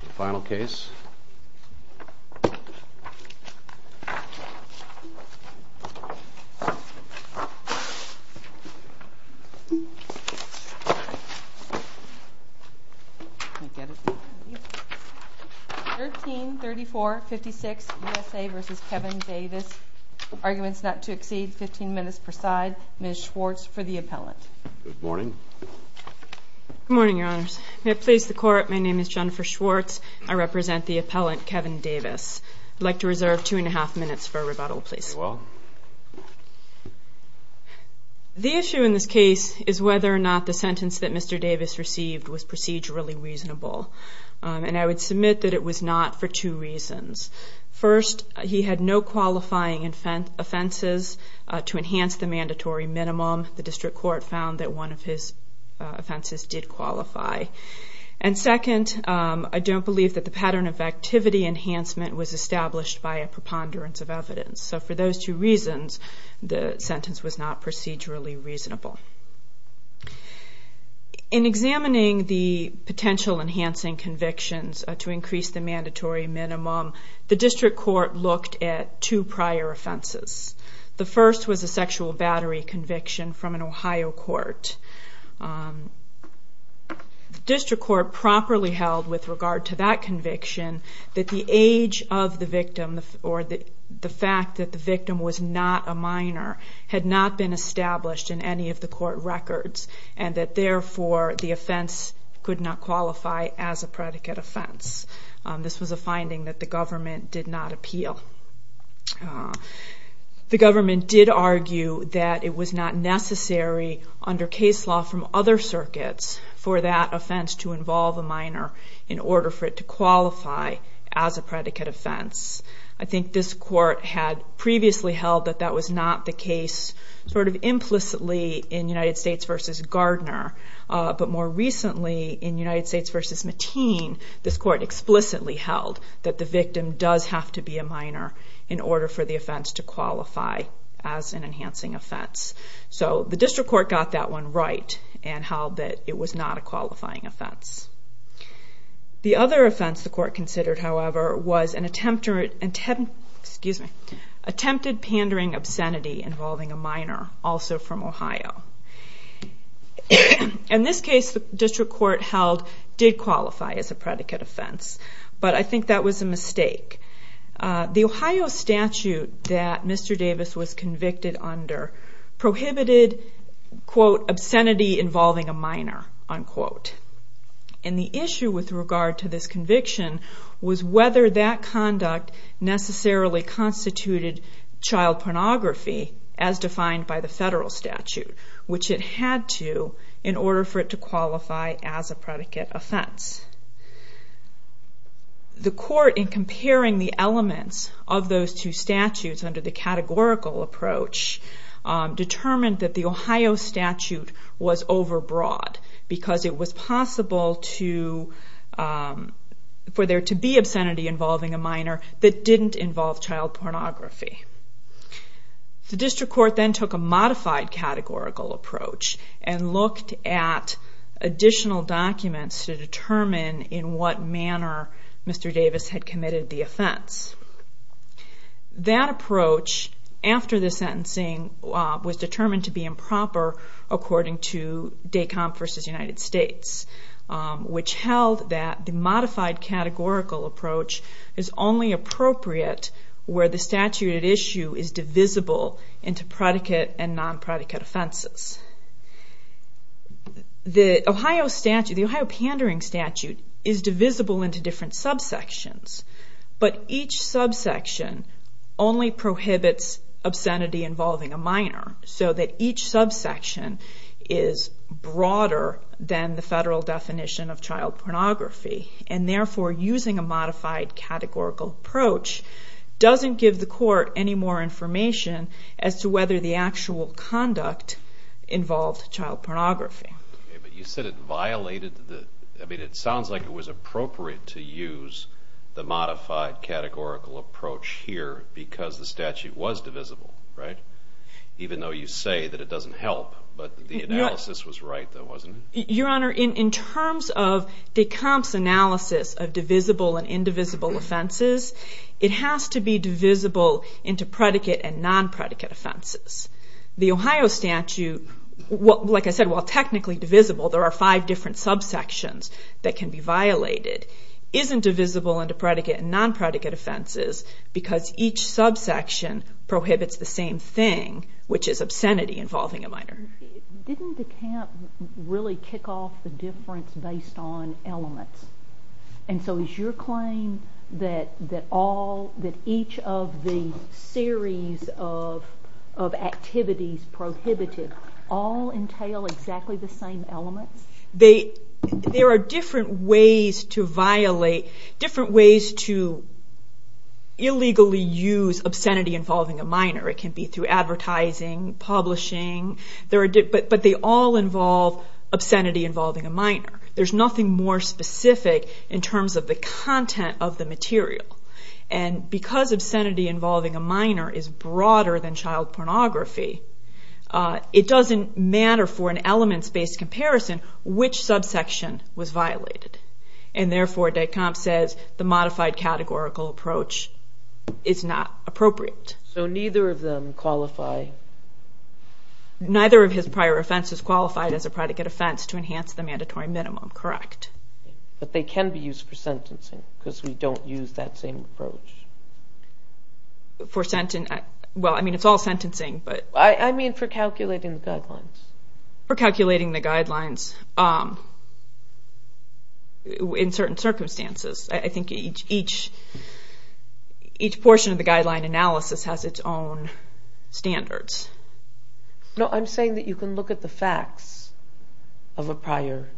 Final case, 13-34-56, USA v. Kevin Davis, arguments not to exceed 15 minutes per side, Ms. Schwartz for the appellant. Good morning. Good morning, Your Honors. May it please the Court, my name is Jennifer Schwartz. I represent the appellant, Kevin Davis. I'd like to reserve two and a half minutes for rebuttal, please. The issue in this case is whether or not the sentence that Mr. Davis received was procedurally reasonable, and I would submit that it was not for two reasons. First, he had no qualifying offenses to enhance the mandatory minimum. The district court found that one of his offenses did qualify. And second, I don't believe that the pattern of activity enhancement was established by a preponderance of evidence. So for those two reasons, the sentence was not procedurally reasonable. In examining the potential enhancing convictions to increase the mandatory minimum, the district court looked at two prior offenses. The first was a sexual battery conviction from an Ohio court. The district court properly held with regard to that conviction that the age of the victim, or the fact that the victim was not a minor, had not been established in any of the court records, and that therefore the offense could not qualify as a predicate offense. This was a finding that the government did not appeal. The government did argue that it was not necessary under case law from other circuits for that offense to involve a minor in order for it to qualify as a predicate offense. I think this court had previously held that that was not the case implicitly in United States v. Gardner, but more recently in United States v. Mateen, this court explicitly held that the victim does have to be a minor in order for the offense to qualify as an enhancing offense. So the district court got that one right and held that it was not a qualifying offense. The other offense the court considered, however, was an attempted pandering obscenity involving a minor, also from Ohio. In this case, the district court held it did qualify as a predicate offense, but I think that was a mistake. The Ohio statute that Mr. Davis was convicted under prohibited, quote, obscenity involving a minor, unquote. And the issue with regard to this conviction was whether that conduct necessarily constituted child pornography as defined by the federal statute, which it had to in order for it to qualify as a predicate offense. The court, in comparing the elements of those two statutes under the categorical approach, determined that the Ohio statute was overbroad because it was possible for there to be obscenity involving a minor that didn't involve child pornography. The district court then took a modified categorical approach and looked at additional documents to determine in what manner Mr. Davis had committed the offense. That approach, after the sentencing, was determined to be improper according to DACOMP v. United States, which held that the modified categorical approach is only appropriate where the statute at issue is divisible into predicate and non-predicate offenses. The Ohio pandering statute is divisible into different subsections, but each subsection only prohibits obscenity involving a minor, so that each subsection is broader than the federal definition of child pornography. Therefore, using a modified categorical approach doesn't give the court any more information as to whether the actual conduct involved child pornography. But you said it violated the... I mean, it sounds like it was appropriate to use the modified categorical approach here because the statute was divisible, right? Even though you say that it doesn't help, but the analysis was right, though, wasn't it? Your Honor, in terms of DACOMP's analysis of divisible and indivisible offenses, it has to be divisible into predicate and non-predicate offenses. The Ohio statute, like I said, while technically divisible, there are five different subsections that can be violated, isn't divisible into predicate and non-predicate offenses because each subsection prohibits the same thing, which is obscenity involving a minor. Didn't DACOMP really kick off the difference based on elements? And so is your claim that each of the series of activities prohibited all entail exactly the same elements? There are different ways to violate, different ways to illegally use obscenity involving a minor. It can be through advertising, publishing, but they all involve obscenity involving a minor. There's nothing more specific in terms of the content of the material. And because obscenity involving a minor is an elements-based comparison, which subsection was violated? And therefore, DACOMP says the modified categorical approach is not appropriate. So neither of them qualify? Neither of his prior offenses qualified as a predicate offense to enhance the mandatory minimum, correct. But they can be used for sentencing because we don't use that same approach. For sentencing? Well, I mean, it's all sentencing, but... I mean for calculating the guidelines. For calculating the guidelines in certain circumstances. I think each portion of the guideline analysis has its own standards. No, I'm saying that you can look at the facts of a prior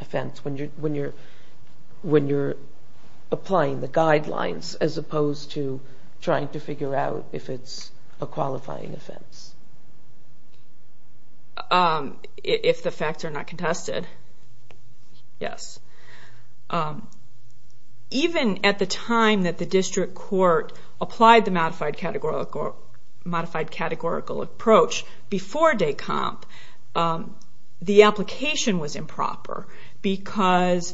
offense when you're applying the guidelines as opposed to trying to figure out if it's a If the facts are not contested, yes. Even at the time that the district court applied the modified categorical approach before DACOMP, the application was improper. Because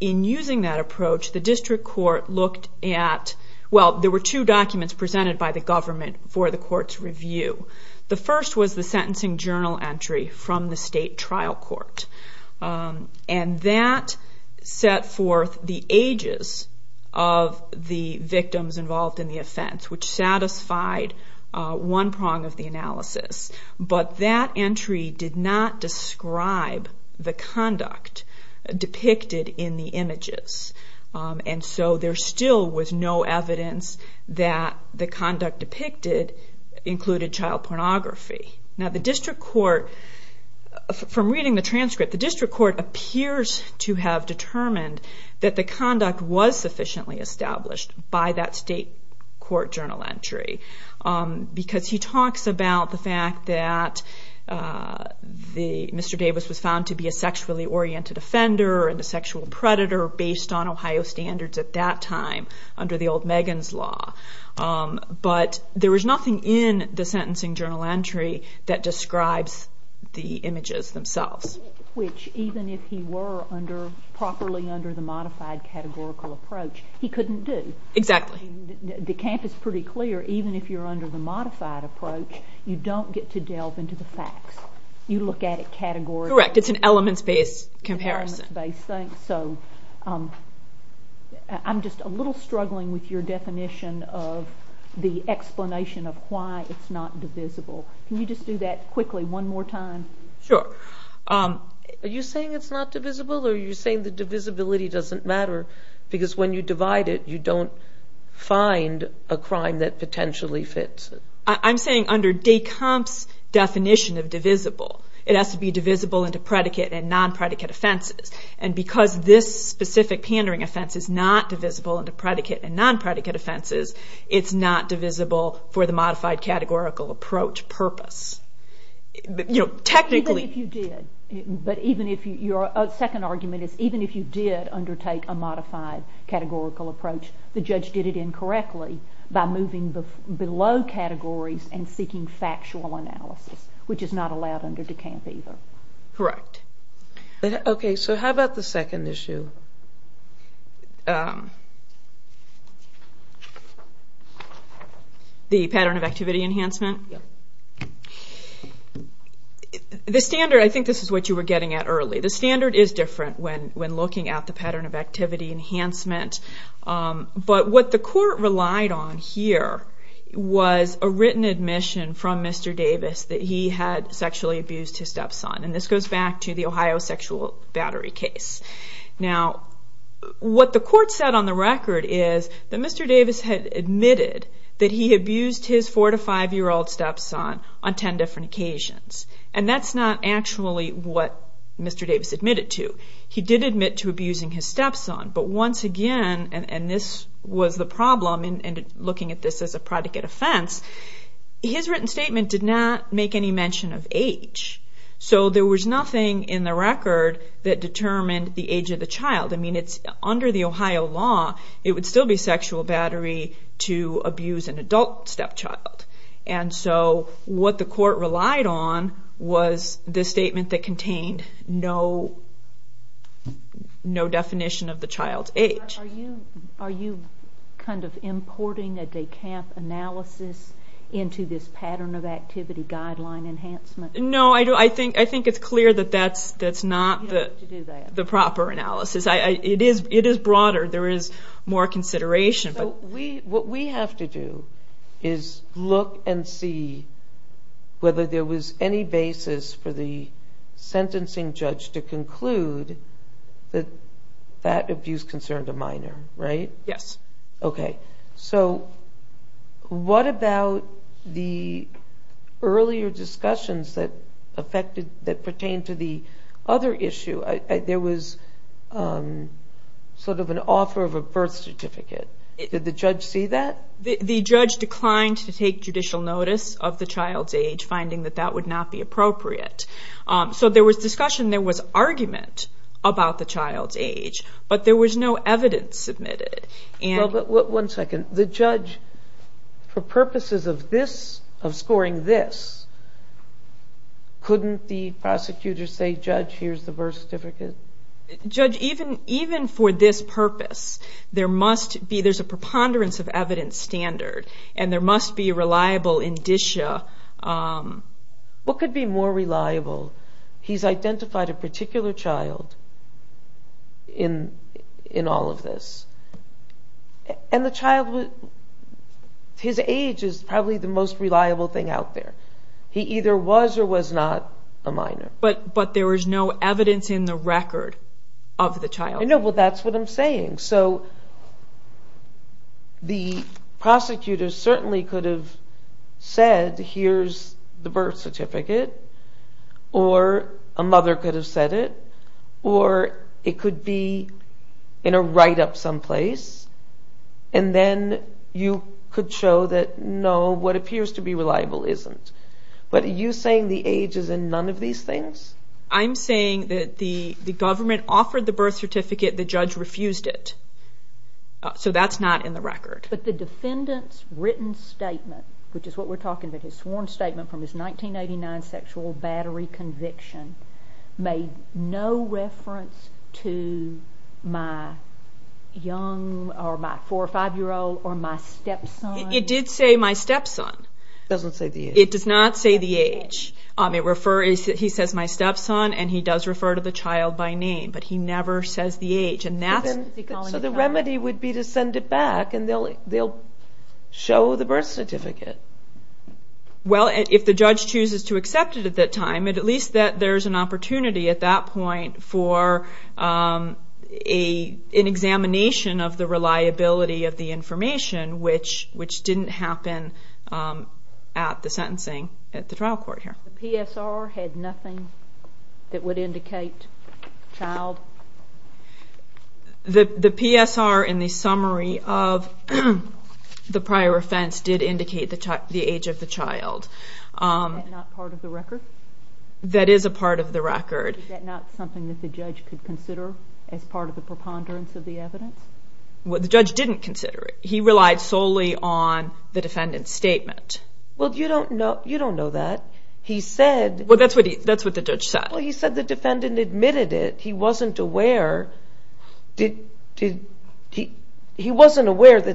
in using that approach, the district court looked at, well, there were two documents presented by the government for the court's review. The first was the sentencing journal entry from the state trial court. And that set forth the ages of the victims involved in the offense, which satisfied one prong of the analysis. But that entry did not describe the conduct depicted in the images. And so there still was no evidence that the conduct depicted included child pornography. Now the district court, from reading the transcript, the district court appears to have determined that the conduct was sufficiently established by that state court journal entry. Because he talks about the fact that Mr. Davis was found to be a sexually oriented offender and a sexual predator based on Ohio standards at that time under the old Megan's Law. But there was nothing in the sentencing journal entry that describes the images themselves. Which even if he were properly under the modified categorical approach, he couldn't do. Exactly. The camp is pretty clear, even if you're under the modified approach, you don't get to delve into the facts. You look at it categorically. Correct. It's an elements-based comparison. It's an elements-based thing. So I'm just a little struggling with your definition of the explanation of why it's not divisible. Can you just do that quickly one more time? Sure. Are you saying it's not divisible or are you saying the divisibility doesn't matter? Because when you divide it, you don't find a crime that potentially fits. I'm saying under Descombe's definition of divisible, it has to be divisible into predicate and non-predicate offenses. And because this specific pandering offense is not divisible into predicate and non-predicate offenses, it's not divisible for the modified categorical approach purpose. You know, technically. Even if you did. But even if your second argument is even if you did undertake a modified categorical approach, the judge did it incorrectly by moving below categories and seeking factual analysis, which is not allowed under Descombe either. Correct. Okay, so how about the second issue? The pattern of activity enhancement? Yep. The standard, I think this is what you were getting at early. The standard is different when looking at the pattern of activity enhancement. But what the court relied on here was a written admission from Mr. Davis that he had sexually abused his stepson. And this goes back to the Ohio sexual battery case. Now, what the court said on the record is that Mr. Davis had admitted that he abused his 4- to 5-year-old stepson on 10 different occasions. And that's not actually what Mr. Davis admitted to. He did admit to abusing his stepson. But once again, and this was the problem in looking at this as a predicate offense, his written statement did not make any mention of age. So there was nothing in the record that determined the age of the child. I mean, under the Ohio law, it would still be sexual battery to abuse an adult stepchild. And so what the court relied on was the statement that contained no definition of the child's age. Are you kind of importing a DECAMP analysis into this pattern of activity guideline enhancement? No, I think it's clear that that's not the proper analysis. It is broader. There is more consideration. What we have to do is look and see whether there was any basis for the sentencing judge to conclude that that abuse concerned a minor, right? Yes. Okay. So what about the earlier discussions that pertained to the other issue? There was sort of an offer of a birth certificate. Did the judge see that? The judge declined to take judicial notice of the child's age, finding that that would not be appropriate. So there was discussion, there was argument about the child's age, but there was no evidence submitted. One second. The judge, for purposes of scoring this, couldn't the prosecutor say, Judge, here's the birth certificate? Judge, even for this purpose, there's a preponderance of evidence standard, and there must be a reliable indicia. What could be more reliable? He's identified a particular child in all of this. And the child, his age is probably the most reliable thing out there. He either was or was not a minor. But there was no evidence in the record of the child. So the prosecutor certainly could have said, Here's the birth certificate. Or a mother could have said it. Or it could be in a write-up someplace. And then you could show that, No, what appears to be reliable isn't. But are you saying the age is in none of these things? I'm saying that the government offered the birth certificate, the judge refused it. So that's not in the record. But the defendant's written statement, which is what we're talking about, his sworn statement from his 1989 sexual battery conviction, made no reference to my four or five-year-old or my stepson? It did say my stepson. It doesn't say the age. It does not say the age. He says my stepson, and he does refer to the child by name. But he never says the age. So the remedy would be to send it back, and they'll show the birth certificate. Well, if the judge chooses to accept it at that time, at least there's an opportunity at that point for an examination of the reliability of the information, which didn't happen at the sentencing at the trial court here. The PSR had nothing that would indicate child? The PSR in the summary of the prior offense did indicate the age of the child. Is that not part of the record? That is a part of the record. Is that not something that the judge could consider as part of the preponderance of the evidence? The judge didn't consider it. He relied solely on the defendant's statement. Well, you don't know that. He said the defendant admitted it. He wasn't aware that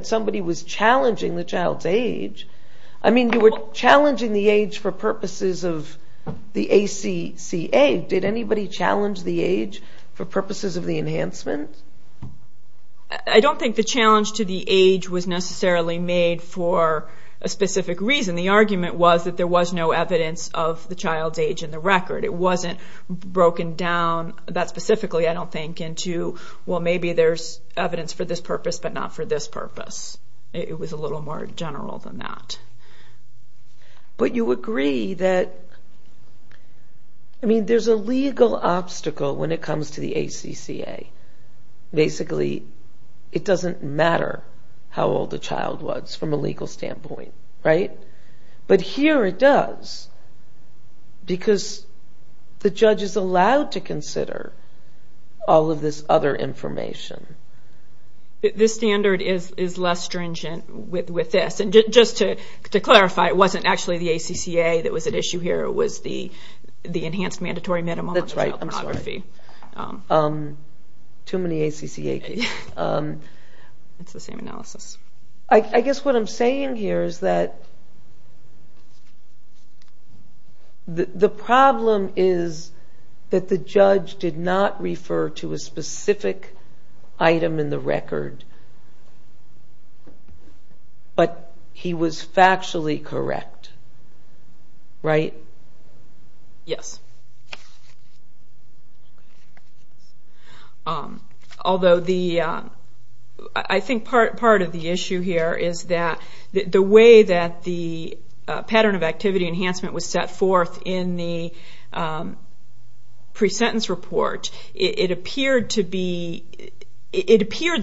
somebody was challenging the child's age. I mean, you were challenging the age for purposes of the ACCA. Did anybody challenge the age for purposes of the enhancement? I don't think the challenge to the age was necessarily made for a specific reason. The argument was that there was no evidence of the child's age in the record. It wasn't broken down that specifically, I don't think, into, well, maybe there's evidence for this purpose but not for this purpose. It was a little more general than that. But you agree that, I mean, there's a legal obstacle when it comes to the ACCA. Basically, it doesn't matter how old the child was from a legal standpoint, right? But here it does because the judge is allowed to consider all of this other information. This standard is less stringent with this. And just to clarify, it wasn't actually the ACCA that was at issue here. It was the enhanced mandatory minimum on child pornography. That's right. Too many ACCA cases. It's the same analysis. I guess what I'm saying here is that the problem is that the judge did not refer to a specific item in the record. But he was factually correct, right? Yes. Although I think part of the issue here is that the way that the pattern of activity enhancement was set forth in the pre-sentence report, it appeared the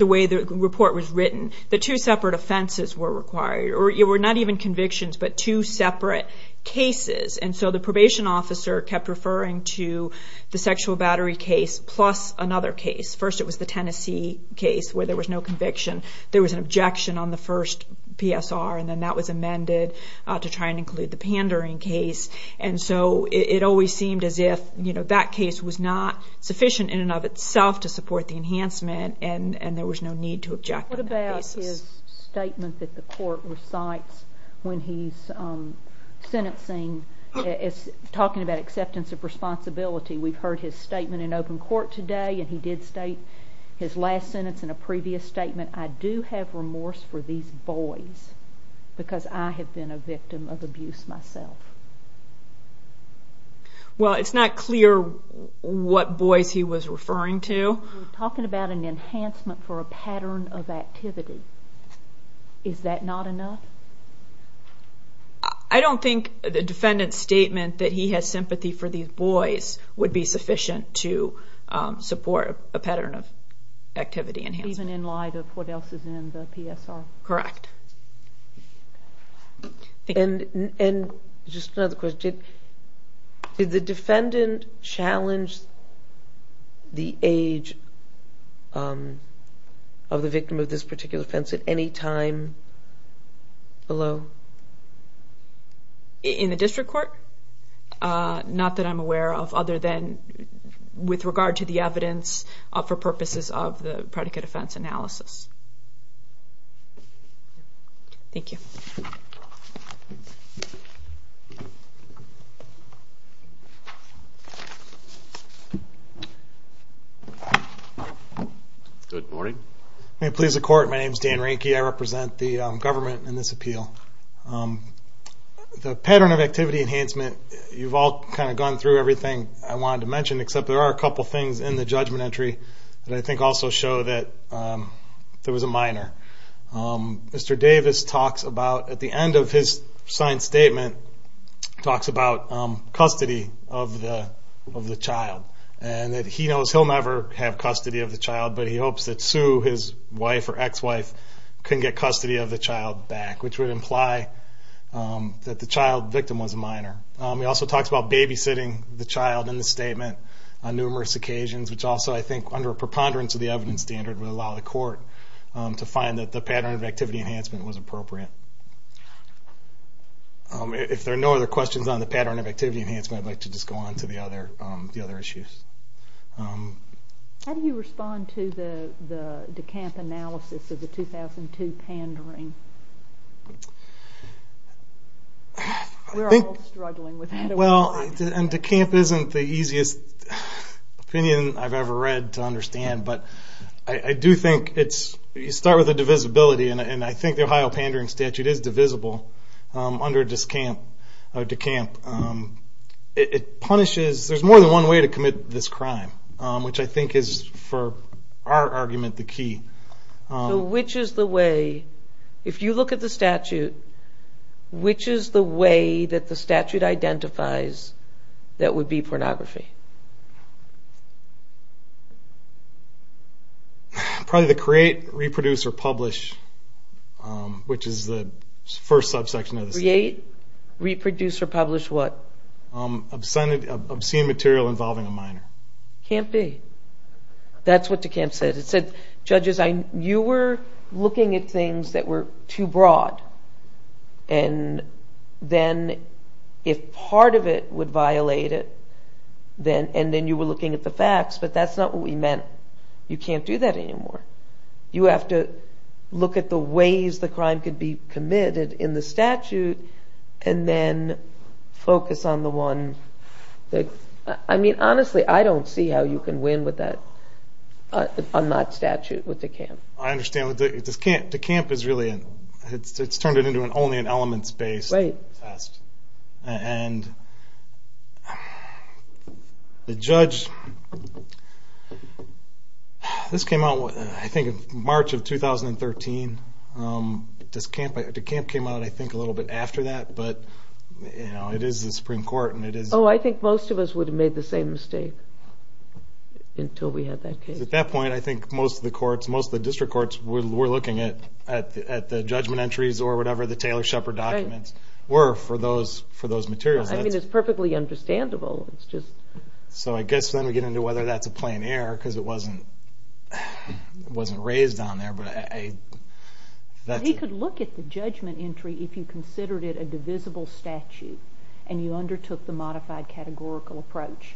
way the report was written. The two separate offenses were required, or not even convictions, but two separate cases. And so the probation officer kept referring to the sexual battery case plus another case. First it was the Tennessee case where there was no conviction. There was an objection on the first PSR, and then that was amended to try and include the pandering case. And so it always seemed as if that case was not sufficient in and of itself to support the enhancement, and there was no need to object on that basis. What about his statement that the court recites when he's sentencing, talking about acceptance of responsibility? We've heard his statement in open court today, and he did state his last sentence in a previous statement. I do have remorse for these boys because I have been a victim of abuse myself. Well, it's not clear what boys he was referring to. You're talking about an enhancement for a pattern of activity. Is that not enough? I don't think the defendant's statement that he has sympathy for these boys would be sufficient to support a pattern of activity enhancement. Not even in light of what else is in the PSR? Correct. And just another question. Did the defendant challenge the age of the victim of this particular offense at any time below? In the district court? Not that I'm aware of other than with regard to the evidence for purposes of the predicate offense analysis. Thank you. Good morning. May it please the Court, my name is Dan Rehnke. I represent the government in this appeal. The pattern of activity enhancement, you've all kind of gone through everything I wanted to mention, except there are a couple things in the judgment entry that I think also show that there was a minor. Mr. Davis talks about, at the end of his signed statement, talks about custody of the child. And that he knows he'll never have custody of the child, but he hopes that Sue, his wife or ex-wife, can get custody of the child back, which would imply that the child victim was a minor. He also talks about babysitting the child in the statement on numerous occasions, which also I think under a preponderance of the evidence standard, would allow the court to find that the pattern of activity enhancement was appropriate. If there are no other questions on the pattern of activity enhancement, I'd like to just go on to the other issues. How do you respond to the DeCamp analysis of the 2002 pandering? We're all struggling with that. Well, and DeCamp isn't the easiest opinion I've ever read to understand, but I do think you start with a divisibility, and I think the Ohio pandering statute is divisible under DeCamp. It punishes. There's more than one way to commit this crime, which I think is, for our argument, the key. So which is the way? If you look at the statute, which is the way that the statute identifies that would be pornography? Probably the create, reproduce or publish, which is the first subsection of the statute. Create, reproduce or publish what? Obscene material involving a minor. Can't be. That's what DeCamp said. It said, judges, you were looking at things that were too broad, and then if part of it would violate it, and then you were looking at the facts, but that's not what we meant. You can't do that anymore. You have to look at the ways the crime could be committed in the statute and then focus on the one that, I mean, honestly, I don't see how you can win on that statute with DeCamp. I understand. DeCamp is really, it's turned it into only an elements-based test. And the judge, this came out, I think, in March of 2013. DeCamp came out, I think, a little bit after that, but, you know, it is the Supreme Court and it is. Oh, I think most of us would have made the same mistake until we had that case. At that point, I think most of the courts, most of the district courts were looking at the judgment entries or whatever the Taylor-Shepard documents were for those materials. I mean, it's perfectly understandable. So I guess then we get into whether that's a plain error because it wasn't raised on there. He could look at the judgment entry if you considered it a divisible statute and you undertook the modified categorical approach.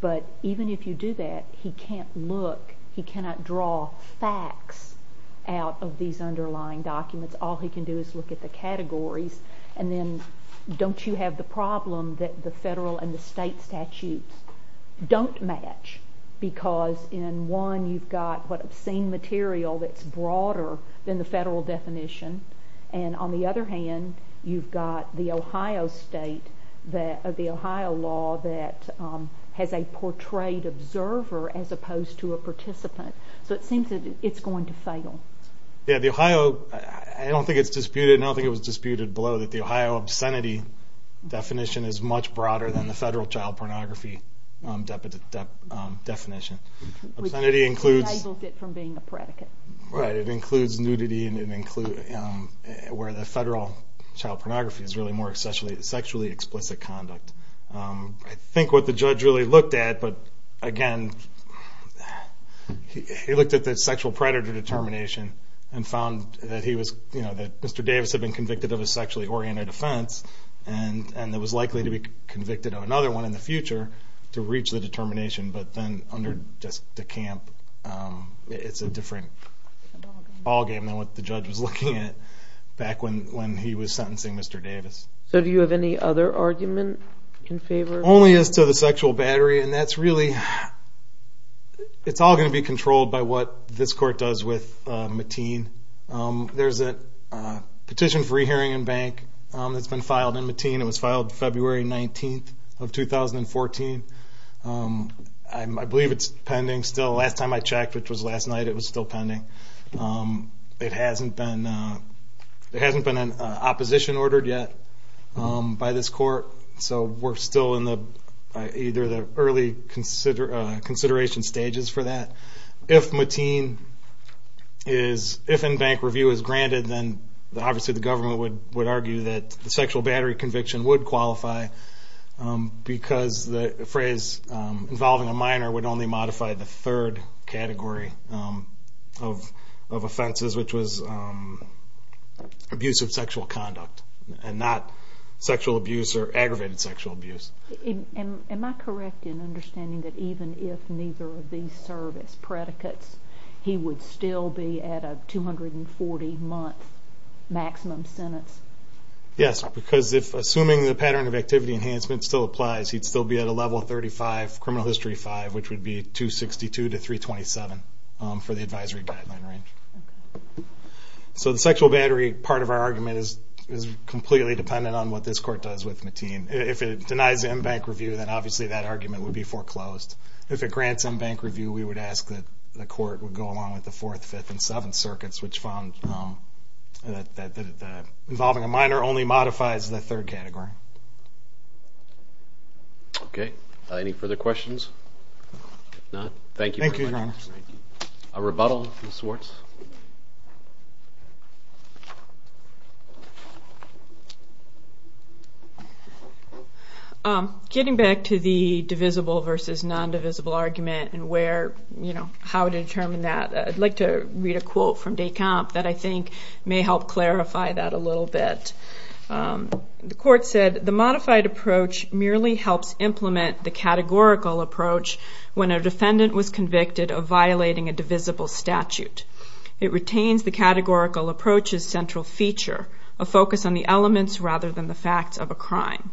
But even if you do that, he can't look, he cannot draw facts out of these underlying documents. All he can do is look at the categories. And then don't you have the problem that the federal and the state statutes don't match because in one you've got what obscene material that's broader than the federal definition. And on the other hand, you've got the Ohio state, the Ohio law, that has a portrayed observer as opposed to a participant. So it seems that it's going to fail. Yeah, the Ohio, I don't think it's disputed, and I don't think it was disputed below, that the Ohio obscenity definition is much broader than the federal child pornography definition. Which disables it from being a predicate. Right, it includes nudity and it includes where the federal child pornography is really more sexually explicit conduct. I think what the judge really looked at, but again, he looked at the sexual predator determination and found that he was, that Mr. Davis had been convicted of a sexually oriented offense and that was likely to be convicted of another one in the future to reach the determination. But then under De Camp, it's a different ballgame than what the judge was looking at back when he was sentencing Mr. Davis. So do you have any other argument in favor? Only as to the sexual battery, and that's really, it's all going to be controlled by what this court does with Mateen. There's a petition for re-hearing in bank that's been filed in Mateen. It was filed February 19th of 2014. I believe it's pending still. Last time I checked, which was last night, it was still pending. It hasn't been, there hasn't been an opposition ordered yet by this court. So we're still in either the early consideration stages for that. If Mateen is, if in-bank review is granted, then obviously the government would argue that the sexual battery conviction would qualify because the phrase involving a minor would only modify the third category of offenses, which was abuse of sexual conduct and not sexual abuse or aggravated sexual abuse. Am I correct in understanding that even if neither of these serve as predicates, he would still be at a 240-month maximum sentence? Yes, because assuming the pattern of activity enhancement still applies, he'd still be at a level 35, criminal history 5, which would be 262 to 327 for the advisory guideline range. So the sexual battery part of our argument is completely dependent on what this court does with Mateen. If it denies in-bank review, then obviously that argument would be foreclosed. If it grants in-bank review, we would ask that the court would go along with the Fourth, Fifth, and Seventh Circuits, which found that involving a minor only modifies the third category. Okay. Any further questions? If not, thank you very much. Thank you, Your Honor. A rebuttal, Ms. Swartz? Getting back to the divisible versus non-divisible argument and how to determine that, I'd like to read a quote from Descamp that I think may help clarify that a little bit. The court said, The modified approach merely helps implement the categorical approach when a defendant was convicted of violating a divisible statute. It retains the categorical approach's central feature, a focus on the elements rather than the facts of a crime,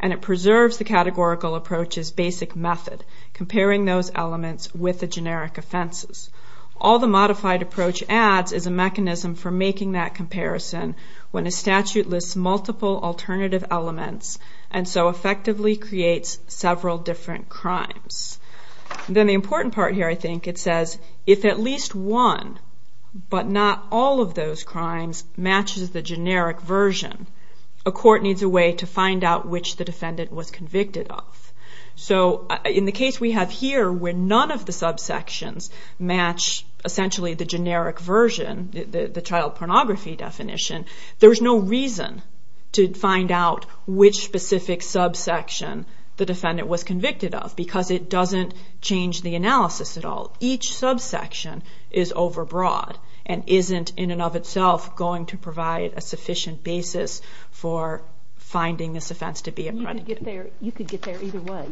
and it preserves the categorical approach's basic method, comparing those elements with the generic offenses. All the modified approach adds is a mechanism for making that comparison when a statute lists multiple alternative elements and so effectively creates several different crimes. Then the important part here, I think, it says, If at least one but not all of those crimes matches the generic version, a court needs a way to find out which the defendant was convicted of. So in the case we have here, where none of the subsections match essentially the generic version, the child pornography definition, there's no reason to find out which specific subsection the defendant was convicted of because it doesn't change the analysis at all. Each subsection is overbroad and isn't in and of itself going to provide a sufficient basis for finding this offense to be a predicate. You could get there either way.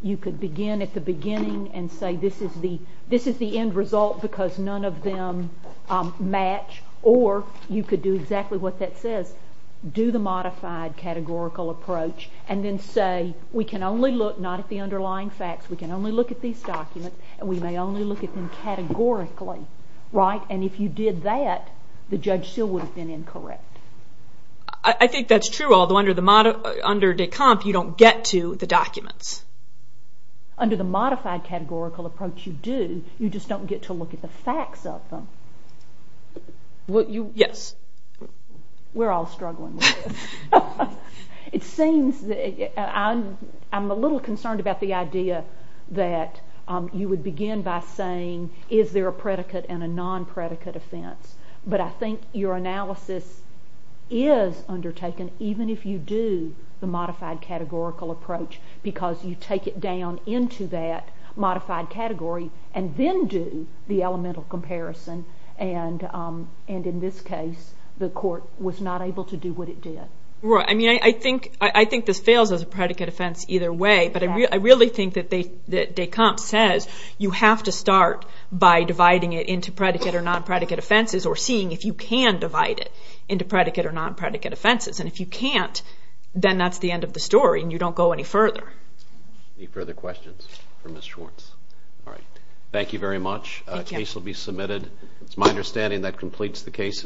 You could begin at the beginning and say, This is the end result because none of them match, or you could do exactly what that says. Do the modified categorical approach and then say we can only look not at the underlying facts. We can only look at these documents and we may only look at them categorically. And if you did that, the judge still would have been incorrect. I think that's true, although under de comp, you don't get to the documents. Under the modified categorical approach you do, you just don't get to look at the facts of them. Yes. We're all struggling with this. It seems that I'm a little concerned about the idea that you would begin by saying is there a predicate and a non-predicate offense? But I think your analysis is undertaken even if you do the modified categorical approach because you take it down into that modified category and then do the elemental comparison. And in this case, the court was not able to do what it did. I think this fails as a predicate offense either way, but I really think that de comp says you have to start by dividing it into predicate or non-predicate offenses or seeing if you can divide it into predicate or non-predicate offenses. And if you can't, then that's the end of the story and you don't go any further. Any further questions for Ms. Schwartz? All right. Thank you very much. The case will be submitted. It's my understanding that completes the case.